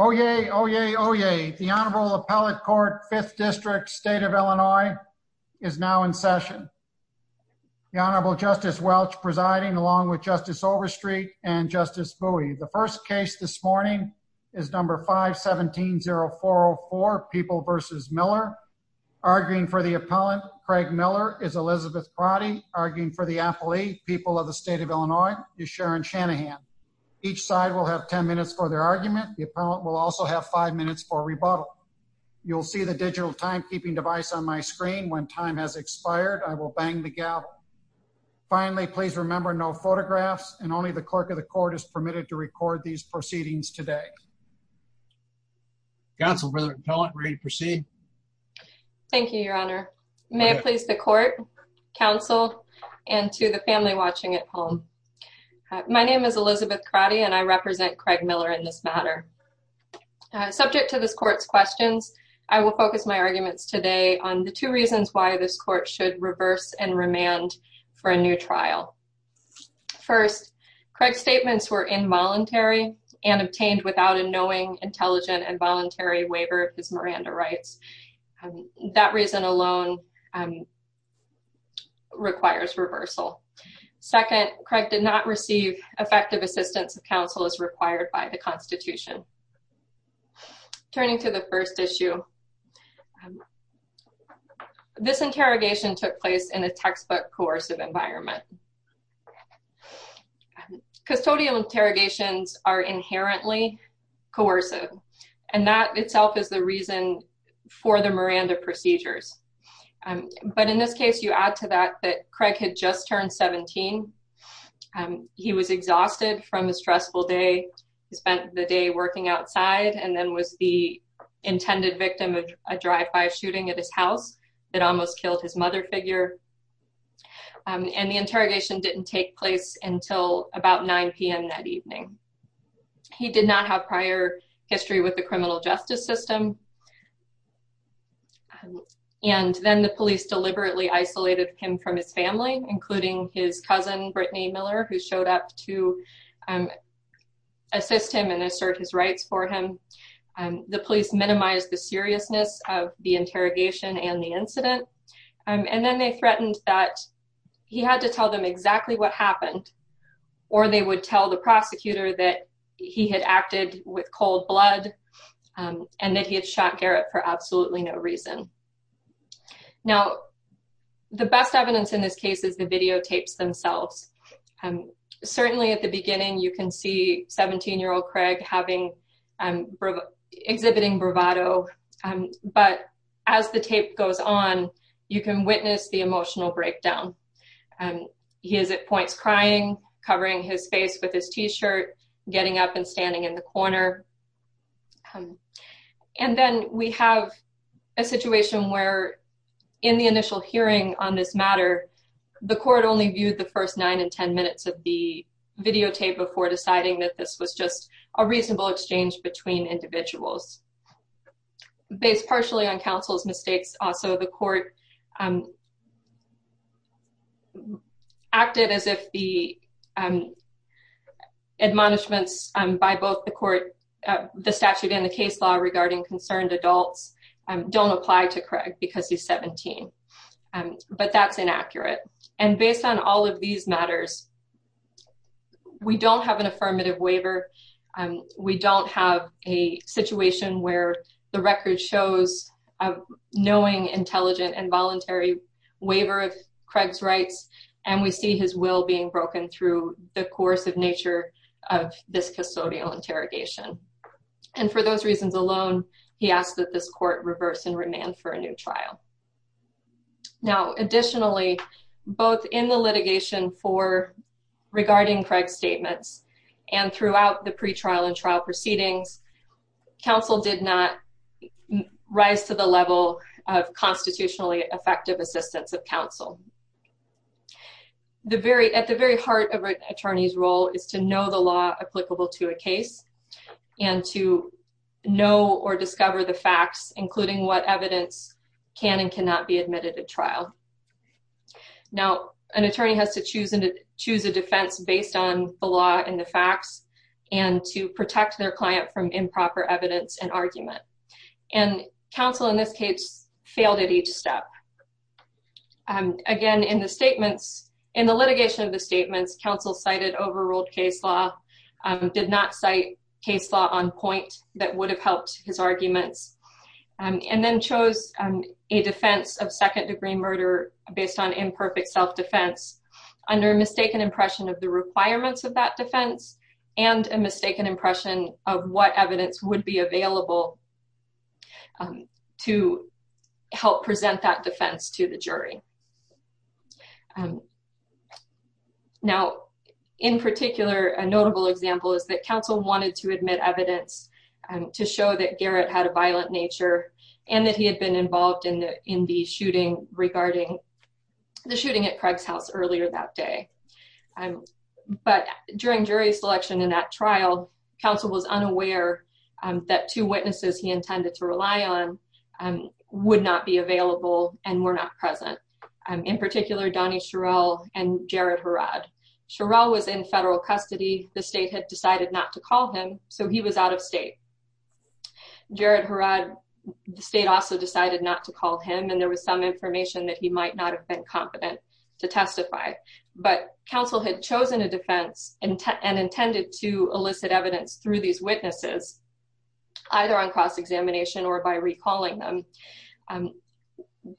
Oh, yay. Oh, yay. Oh, yay. The Honorable Appellate Court, 5th District, State of Illinois, is now in session. The Honorable Justice Welch presiding along with Justice Overstreet and Justice Bowie. The first case this morning is number 517-0404, People v. Miller. Arguing for the appellant, Craig Miller, is Elizabeth Proddy. Arguing for the appellee, People of the State of Illinois, is Sharon Shanahan. Each side will have 10 minutes for their argument. The appellant will also have 5 minutes for rebuttal. You'll see the digital timekeeping device on my screen. When time has expired, I will bang the gavel. Finally, please remember no photographs and only the clerk of the court is permitted to record these proceedings today. Counsel, whether appellant, ready to proceed? Thank you, Your Honor. May it please the court, counsel, and to the family watching at home. My name is Elizabeth Proddy and I represent Craig Miller in this matter. Subject to this court's questions, I will focus my arguments today on the two reasons why this court should reverse and remand for a new trial. First, Craig's statements were involuntary and obtained without a knowing, intelligent, and voluntary waiver of his Miranda rights. That reason alone requires reversal. Second, Craig did not receive effective assistance of counsel as required by the Constitution. Turning to the first issue, this interrogation is inherently coercive and that itself is the reason for the Miranda procedures. In this case, you add to that that Craig had just turned 17. He was exhausted from a stressful day. He spent the day working outside and then was the intended victim of a drive-by shooting at his house that almost killed his mother figure. And the interrogation didn't take place until about 9 p.m. that evening. He did not have prior history with the criminal justice system and then the police deliberately isolated him from his family, including his cousin, Brittany Miller, who showed up to assist him and assert his rights for him. The police minimized the seriousness of the incident. And then they threatened that he had to tell them exactly what happened or they would tell the prosecutor that he had acted with cold blood and that he had shot Garrett for absolutely no reason. Now, the best evidence in this case is the videotapes themselves. Certainly at the You can witness the emotional breakdown. He is at points crying, covering his face with his t-shirt, getting up and standing in the corner. And then we have a situation where in the initial hearing on this matter, the court only viewed the first 9 and 10 minutes of the videotape before deciding that this was just a reasonable exchange between individuals. Based partially on on acted as if the admonishments by both the court, the statute and the case law regarding concerned adults don't apply to Craig because he's 17. But that's inaccurate. And based on all of these matters, we don't have an affirmative waiver. We don't have a situation where the record shows of knowing intelligent and voluntary waiver of Craig's rights. And we see his will being broken through the course of nature of this custodial interrogation. And for those reasons alone, he asked that this court reverse and remand for a new trial. Now, additionally, both in the litigation for regarding Craig's statements, and throughout the pre trial and trial proceedings, counsel did not rise to the level of constitutionally effective assistance of counsel. The very at the very heart of an attorney's role is to know the law applicable to a case, and to know or discover the facts, including what evidence can and cannot be admitted to trial. Now, an attorney has to choose and choose a defense based on the law and the facts, and to protect their client from improper evidence and argument. And counsel in this case, failed at each step. And again, in the statements, in the litigation of the statements, counsel cited overruled case law, did not cite case law on point that would have helped his arguments, and then chose a defense of second degree murder based on imperfect self defense, under a mistaken impression of the requirements of that defense, and a mistaken impression of what evidence would be available to help present that defense to the jury. Now, in particular, a notable example is that counsel wanted to admit evidence to show that Garrett had a violent nature, and that he had been involved in the in the shooting regarding the shooting at Craig's house earlier that day. And but during jury selection in that trial, counsel was unaware that two witnesses he intended to rely on, and would not be available and we're not present. In particular, Donnie Shirell, and Jared Harad. Shirell was in federal custody, the state had decided not to call him, so he was out of state. Jared Harad, the state also decided not to call him and there was some information that he might not have been competent to testify. But counsel had chosen a defense and intended to elicit evidence through these witnesses, either on cross examination or by recalling them,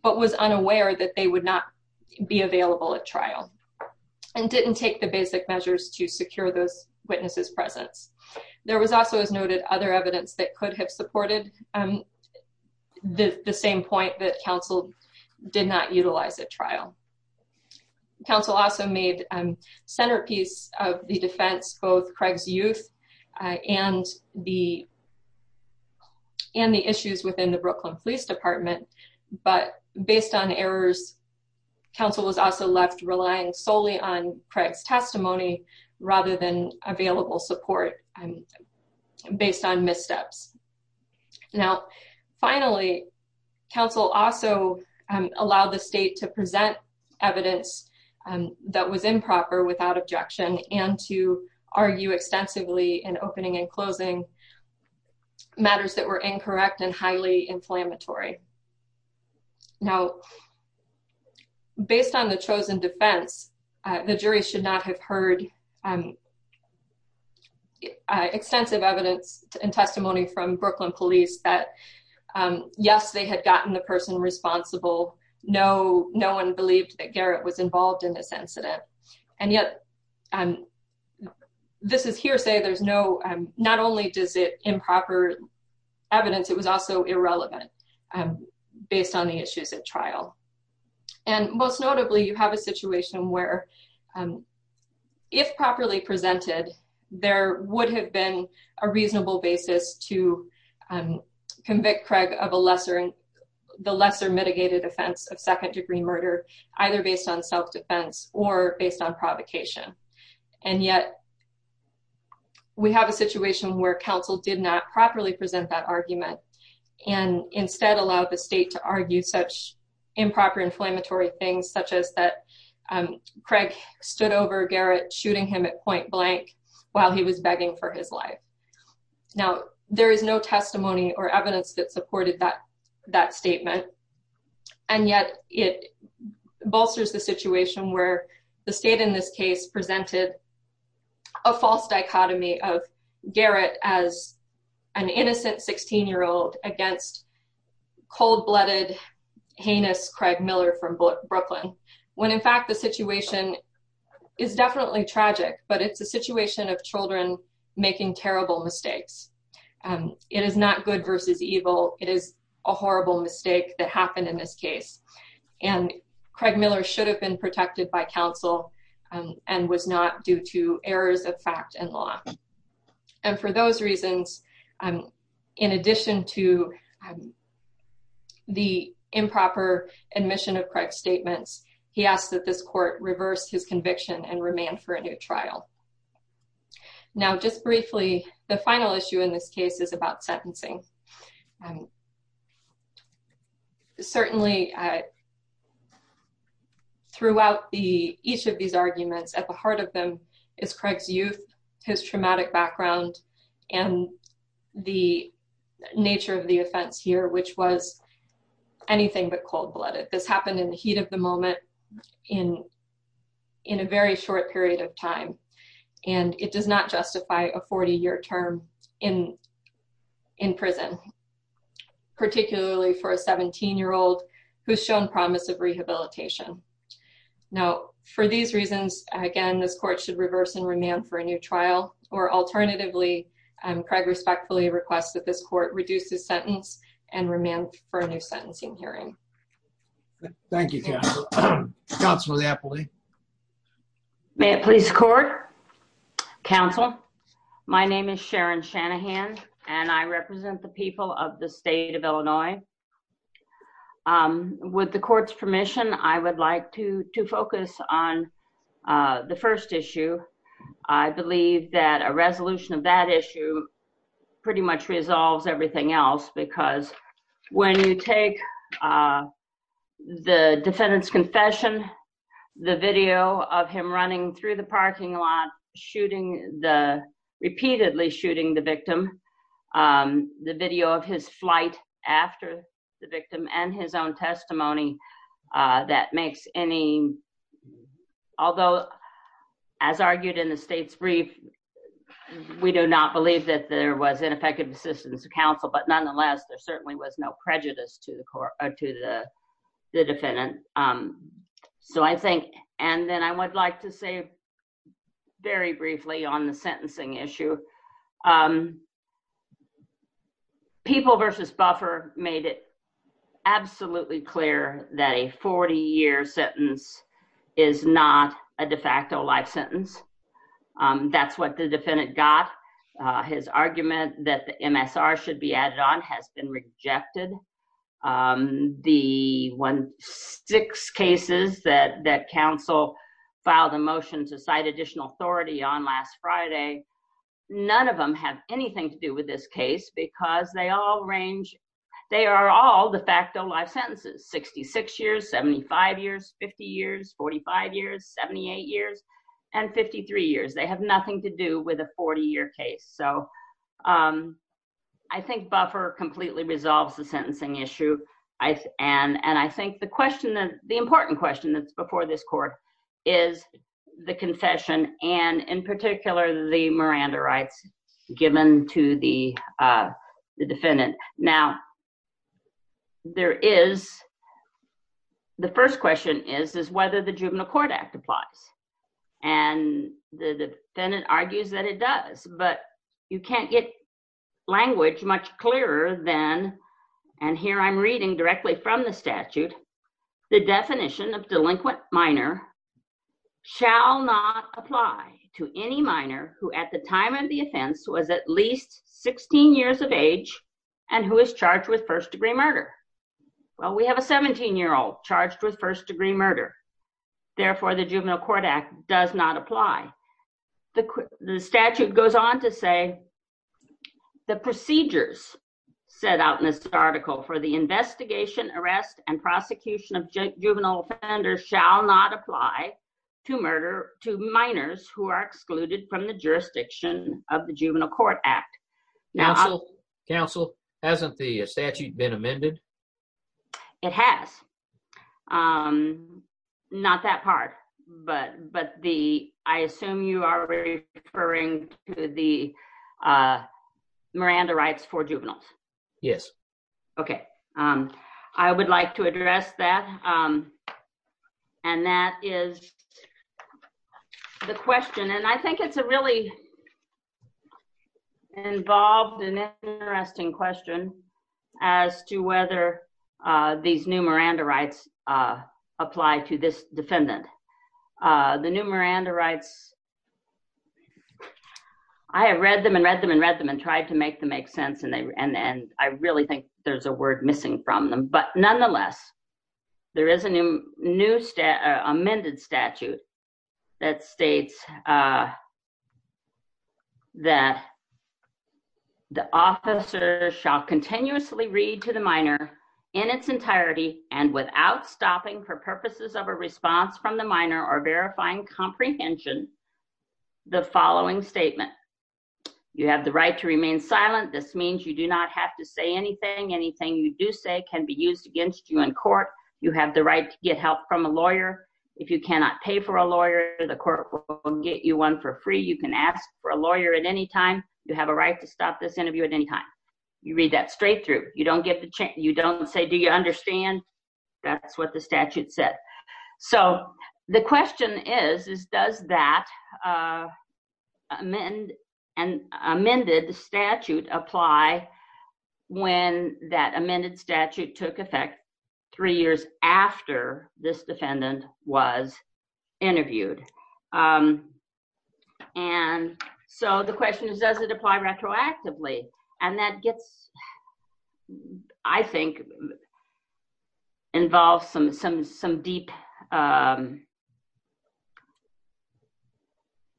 but was unaware that they would not be available at trial, and didn't take the basic measures to secure those witnesses presence. There was also as noted other points that counsel did not utilize at trial. Council also made centerpiece of the defense, both Craig's youth and the and the issues within the Brooklyn Police Department. But based on errors, counsel was also left relying solely on Craig's testimony, rather than available support based on evidence. Counsel also allowed the state to present evidence that was improper without objection and to argue extensively and opening and closing matters that were incorrect and highly inflammatory. Now, based on the chosen defense, the jury should not have heard extensive evidence and testimony from Brooklyn Police that yes, they had gotten the person responsible. No, no one believed that Garrett was involved in this incident. And yet, this is hearsay, there's no, not only does it improper evidence, it was also irrelevant, based on the issues at trial. And most notably, you have a situation where counsel did not properly presented, there would have been a reasonable basis to convict Craig of a lesser, the lesser mitigated offense of second degree murder, either based on self defense, or based on provocation. And yet, we have a situation where counsel did not properly present that argument, and instead allowed the state to argue such improper inflammatory things such as that Craig stood over Garrett shooting him at point blank, while he was begging for his life. Now, there is no testimony or evidence that supported that, that statement. And yet, it bolsters the situation where the state in this case presented a false dichotomy of Garrett as an innocent 16 year old against cold blooded, heinous Craig Miller from Brooklyn, when in fact, the situation is definitely tragic, but it's a situation of children making terrible mistakes. It is not good versus evil, it is a horrible mistake that happened in this case. And Craig Miller should have been protected by counsel and was not due to errors of fact and law. And for those reasons, in addition to the improper admission of Craig statements, he asked that this case be re-examined. And I think that's what's missing. Certainly, throughout the each of these arguments, at the heart of them is Craig's youth, his traumatic background, and the nature of the offense here, which was anything but cold blooded. This happened in the heat of the prison, particularly for a 17 year old, who's shown promise of rehabilitation. Now, for these reasons, again, this court should reverse and remand for a new trial, or alternatively, Craig respectfully requests that this court reduce the sentence and remand for a new sentencing hearing. Thank you, Councilor Apley. May it please the court, counsel. My name is Sharon Shanahan, and I represent the people of the state of Illinois. With the court's permission, I would like to focus on the video of him running through the parking lot, repeatedly shooting the victim, the video of his flight after the victim, and his own testimony that makes any... Although, as argued in the state's brief, we do not believe that there was ineffective assistance of counsel, but nonetheless, there certainly was no prejudice to the defendant. So I think, and then I would like to say, very briefly on the sentencing issue. People versus Buffer made it absolutely clear that a 40 year sentence is not a de facto life sentence. That's what the defendant got. His argument that the MSR should be added on has been rejected. The one, six cases that counsel filed a motion to cite additional authority on last Friday, none of them have anything to do with this case because they all range, they are all de facto life sentences. 66 years, 75 years, 50 years, 45 years, 78 years, and 53 years. They have nothing to do with a 40 year case. So I think Buffer completely resolves the sentencing issue. And I think the question, the important question that's before this court is the confession and, in particular, the Miranda rights given to the defendant. Now, there is, the first question is, is whether the Juvenile Court Act applies. And the defendant argues that it does, but you can't get language much clearer than, and here I'm reading directly from the statute, the definition of delinquent minor shall not apply to any minor who, at the time of the offense, was at least 16 years of age and who is charged with first degree murder. Well, we have a 17 year old charged with first degree murder. Therefore, the Juvenile Court Act does not apply. The statute goes on to say, the procedures set out in this article for the investigation, arrest, and prosecution of juvenile offenders shall not apply to murder, to minors who are excluded from the jurisdiction of the Juvenile Court Act. Counsel, Counsel, hasn't the statute been amended? It has. Um, not that part, but, but the, I assume you are referring to the Miranda rights for juveniles? Yes. Okay. I would like to address that. And that is the question, and I think it's a really involved and interesting question as to whether these new Miranda rights apply to this defendant. The new Miranda rights, I have read them and read them and read them and tried to make them make sense, and I really think there's a word missing from them, but nonetheless, there is a new, new amended statute that states that that the officer shall continuously read to the minor in its entirety and without stopping for purposes of a response from the minor or verifying comprehension, the following statement. You have the right to remain silent. This means you do not have to say anything. Anything you do say can be used against you in court. You have the right to get help from a lawyer. If you cannot pay for a lawyer, the court will get you one for free. You can ask for a lawyer at any time. You have a right to stop this interview at any time. You read that straight through. You don't get the chance. You don't say, do you understand? That's what the statute said. So the question is, is does that amended statute apply when that amended statute took effect three years after this defendant was interviewed? And so the question is, does it apply retroactively? And that gets, I think, involves some deep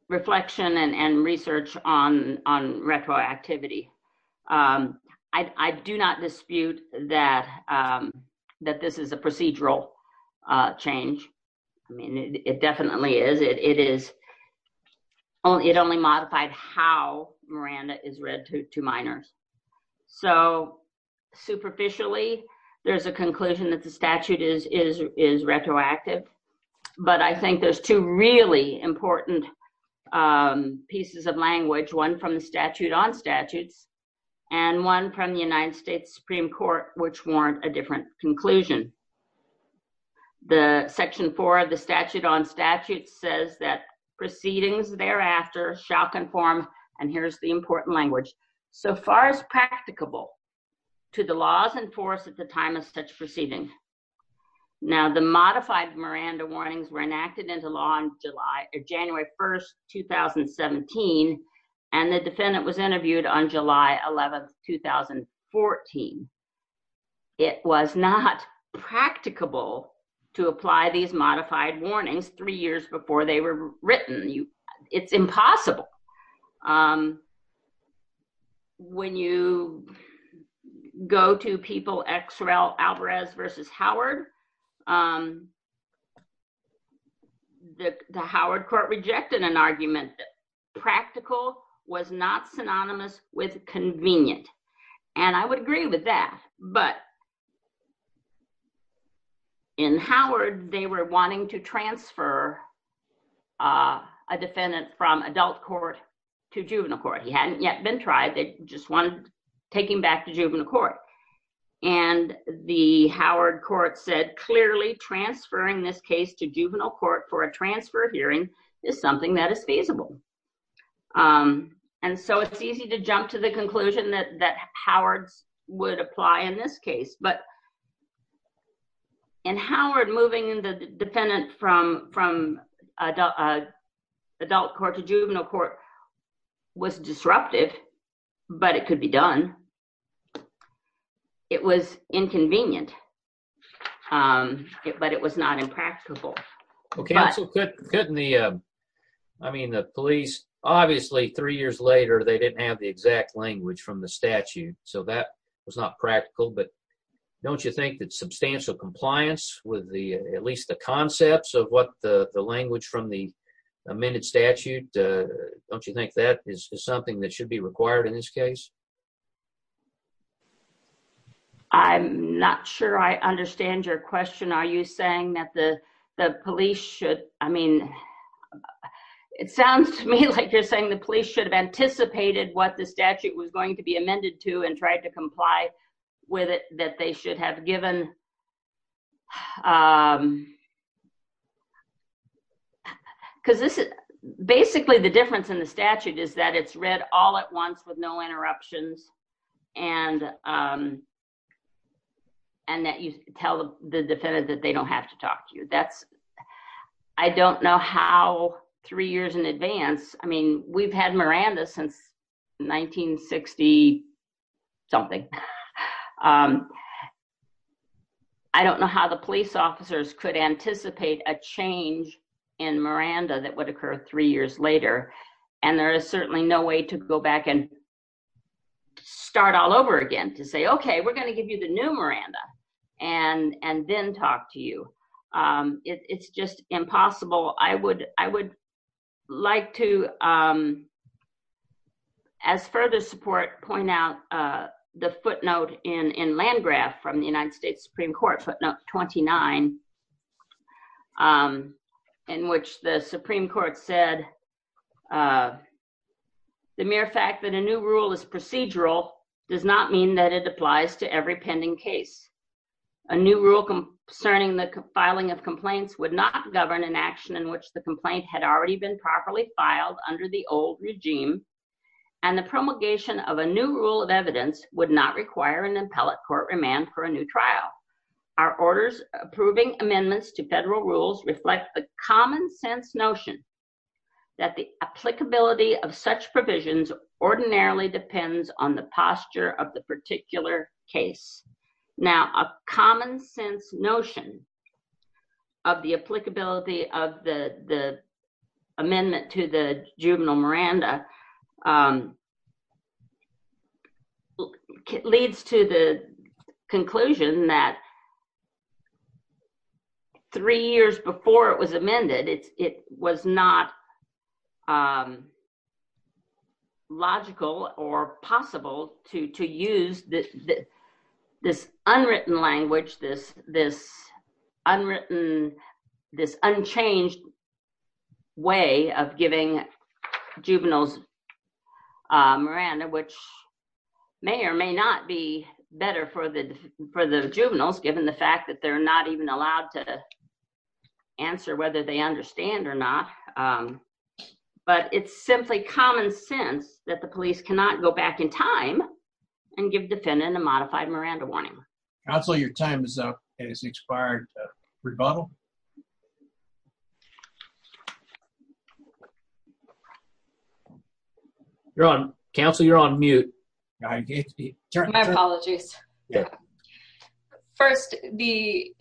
reflection and research on retroactivity. I do not dispute that that this is a procedural change. I mean, it definitely is. It is a procedural change. It only modified how Miranda is read to minors. So superficially, there's a conclusion that the statute is retroactive, but I think there's two really important pieces of language, one from the statute on statutes and one from the United States Supreme Court, which warrant a different conclusion. The section four of the statute on statutes says that proceedings thereafter shall conform, and here's the important language, so far as practicable to the laws enforced at the time of such proceeding. Now the modified Miranda warnings were enacted into law on January 1, 2017, and the defendant was interviewed on July 11, 2014. It was not practicable to apply these modified warnings three years before they were written. It's impossible. When you go to people, X. Alvarez versus Howard, the Howard court rejected an argument that practical was not synonymous with convenient, and I would agree with that, but in Howard, they were wanting to transfer a defendant from adult court to juvenile court. He hadn't yet been tried. They just wanted to take him back to juvenile court, and the Howard court said, clearly transferring this case to juvenile court for a transfer hearing is something that is feasible. And so it's easy to jump to the conclusion that Howard's would apply in this case, but in Howard, moving the defendant from adult court to juvenile court was disruptive, but it could be done. It was inconvenient, but it was not impracticable. Okay, so couldn't the, I mean, the police, obviously three years later, they didn't have the exact language from the statute, so that was not practical, but don't you think that substantial compliance with the, at least the concepts of what the language from the amended statute, don't you think that is something that should be required in this case? I'm not sure I understand your question. Are you saying that the police should, I mean, it sounds to me like you're saying the police should have anticipated what the statute was going to be amended to and tried to comply with it, that they should have given. Because this is basically the difference in the statute is that it's read all at once, with no interruptions and and that you tell the defendant that they don't have to talk to you. That's, I don't know how three years in advance. I mean, we've had Miranda since 1960 something. I don't know how the police officers could anticipate a change in Miranda that would occur, three years later, and there is certainly no way to go back and start all over again to say, okay, we're going to give you the new Miranda and then talk to you. It's just impossible. I would like to As further support, point out the footnote in Landgraf from the United States Supreme Court, footnote 29, in which the Supreme Court said, The mere fact that a new rule is procedural does not mean that it applies to every pending case. A new rule concerning the filing of complaints would not govern an action in which the complaint had already been properly filed under the old regime. And the promulgation of a new rule of evidence would not require an appellate court remand for a new trial. Our orders approving amendments to federal rules reflect the common sense notion that the applicability of such provisions ordinarily depends on the posture of the particular case. Now a common sense notion of the applicability of the amendment to the juvenile Miranda leads to the conclusion that three years before it was amended, it was not logical or possible to use this unwritten language, this unwritten, this unchanged way of giving juveniles Miranda, which may or may not be better for the for the juveniles, given the fact that they're not even allowed to answer whether they understand or not. But it's simply common sense that the police cannot go back in time and give defendant a modified Miranda warning. Counsel, your time is up. It is expired. Rebuttal. You're on. Counsel, you're on mute. I'm sorry, my apologies. First,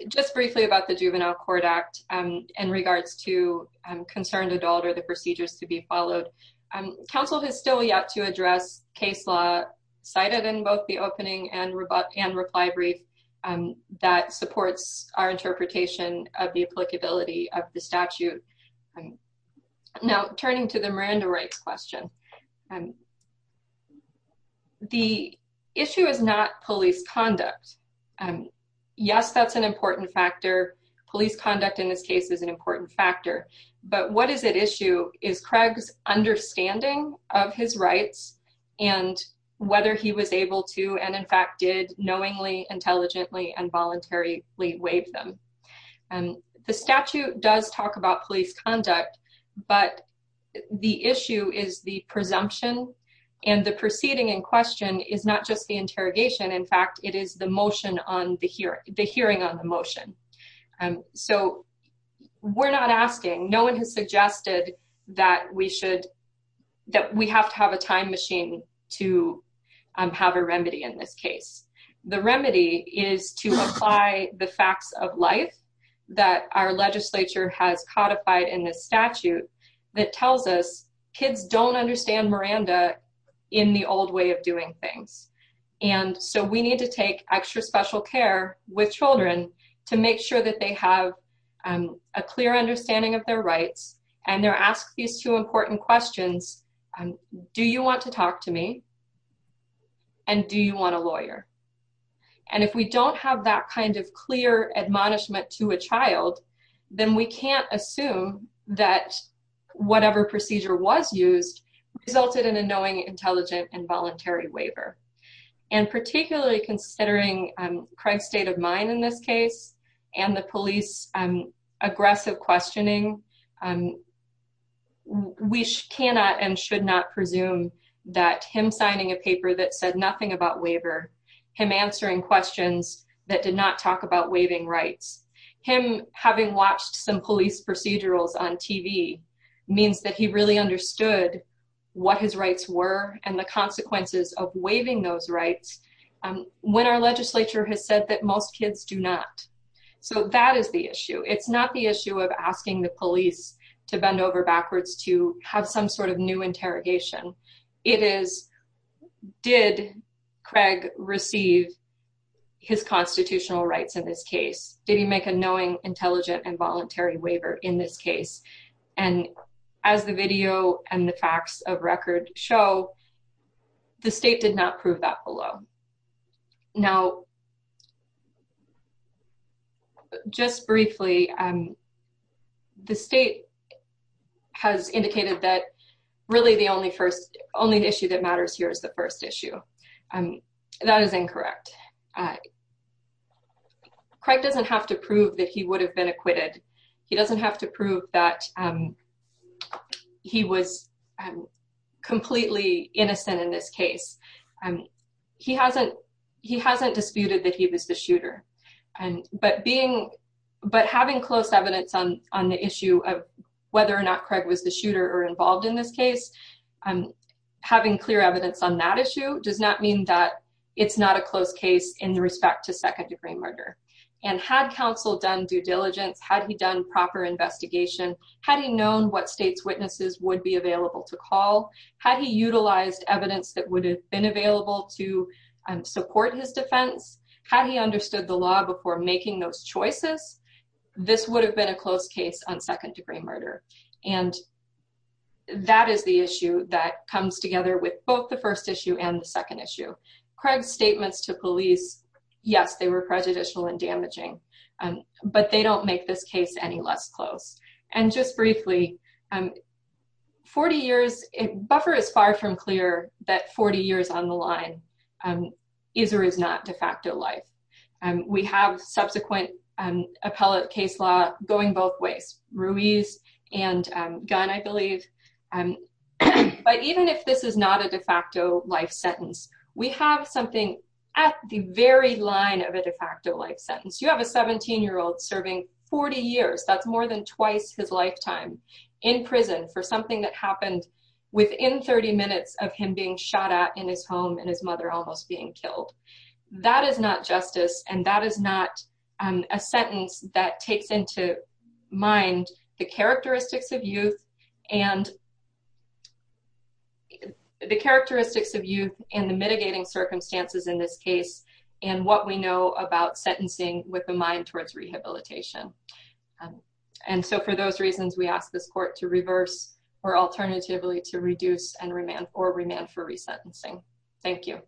just briefly about the Juvenile Court Act and in regards to concerned adult or the procedures to be followed. Counsel has still yet to address case law cited in both the opening and reply brief that supports our interpretation of the applicability of the statute. Now, turning to the Miranda rights question and The issue is not police conduct. And yes, that's an important factor. Police conduct in this case is an important factor. But what is at issue is Craig's understanding of his rights and whether he was able to, and in fact did knowingly intelligently and voluntarily waive them. And the statute does talk about police conduct, but the issue is the presumption and the proceeding in question is not just the interrogation. In fact, it is the motion on the hearing the hearing on the motion and so We're not asking. No one has suggested that we should that we have to have a time machine to Have a remedy. In this case, the remedy is to apply the facts of life that our legislature has codified in this statute that tells us kids don't understand Miranda. In the old way of doing things. And so we need to take extra special care with children to make sure that they have a clear understanding of their rights and they're asked these two important questions. Do you want to talk to me. And do you want a lawyer. And if we don't have that kind of clear admonishment to a child, then we can't assume that whatever procedure was used resulted in a knowing intelligent and voluntary waiver. And particularly considering Craig state of mind in this case and the police aggressive questioning and We cannot and should not presume that him signing a paper that said nothing about waiver him answering questions that did not talk about waving rights. Him having watched some police procedurals on TV means that he really understood what his rights were and the consequences of waving those rights. When our legislature has said that most kids do not. So that is the issue. It's not the issue of asking the police to bend over backwards to have some sort of new interrogation, it is Did Craig receive his constitutional rights in this case, did he make a knowing intelligent and voluntary waiver in this case. And as the video and the facts of record show The state did not prove that below Now, Just briefly, and the state has indicated that really the only first only issue that matters. Here's the first issue and that is incorrect. Craig doesn't have to prove that he would have been acquitted. He doesn't have to prove that He was Completely innocent in this case and he hasn't he hasn't disputed that he was the shooter and but being But having close evidence on on the issue of whether or not Craig was the shooter are involved in this case. I'm having clear evidence on that issue does not mean that it's not a close case in respect to second degree murder. And had counsel done due diligence. Had he done proper investigation. Had he known what states witnesses would be available to call had he utilized evidence that would have been available to Support his defense had he understood the law before making those choices. This would have been a close case on second degree murder and That is the issue that comes together with both the first issue and the second issue Craig statements to police. Yes, they were prejudicial and damaging and but they don't make this case any less close and just briefly and Buffer is far from clear that 40 years on the line. Is or is not de facto life and we have subsequent appellate case law going both ways. Ruiz and gun, I believe, and But even if this is not a de facto life sentence. We have something at the very line of a de facto life sentence. You have a 17 year old serving 40 years that's more than twice his lifetime. In prison for something that happened within 30 minutes of him being shot at in his home and his mother almost being killed. That is not justice and that is not a sentence that takes into mind the characteristics of youth and The characteristics of you in the mitigating circumstances in this case. And what we know about sentencing with a mind towards rehabilitation. And so for those reasons we asked this court to reverse or alternatively to reduce and remand or remand for resentencing. Thank you.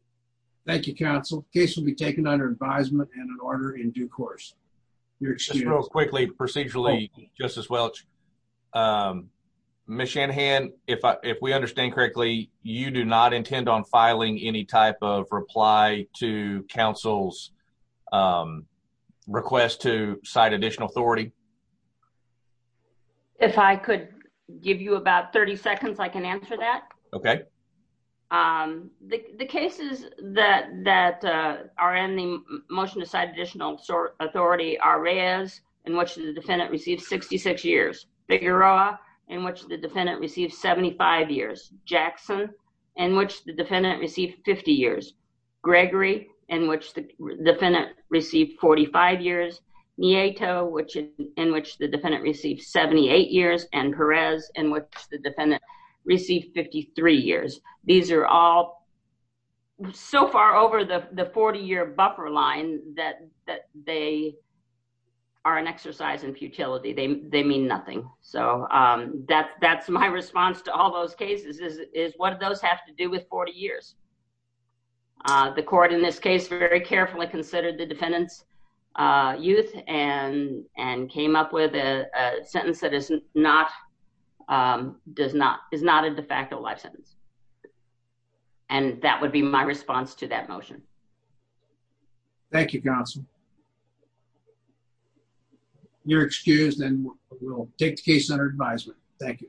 Thank you. Council case will be taken under advisement and an order in due course, your excuse real quickly procedurally just as well. Mission hand if I if we understand correctly, you do not intend on filing any type of reply to councils. Request to cite additional authority. If I could give you about 30 seconds. I can answer that. Okay. The cases that that are in the motion to cite additional sort authority areas in which the defendant received 66 years figure off in which the defendant received 75 years Jackson. In which the defendant received 50 years Gregory in which the defendant received 45 years NATO which in which the defendant received 78 years and Perez and what the defendant received 53 years. These are all so far over the 40 year buffer line that that they Are an exercise in futility, they, they mean nothing. So that that's my response to all those cases is is what those have to do with 40 years The court in this case very carefully considered the defendants youth and and came up with a sentence that is not Does not is not a de facto life sentence. And that would be my response to that motion. Thank you. You're excused and we'll take the case under advisement. Thank you. Thank you.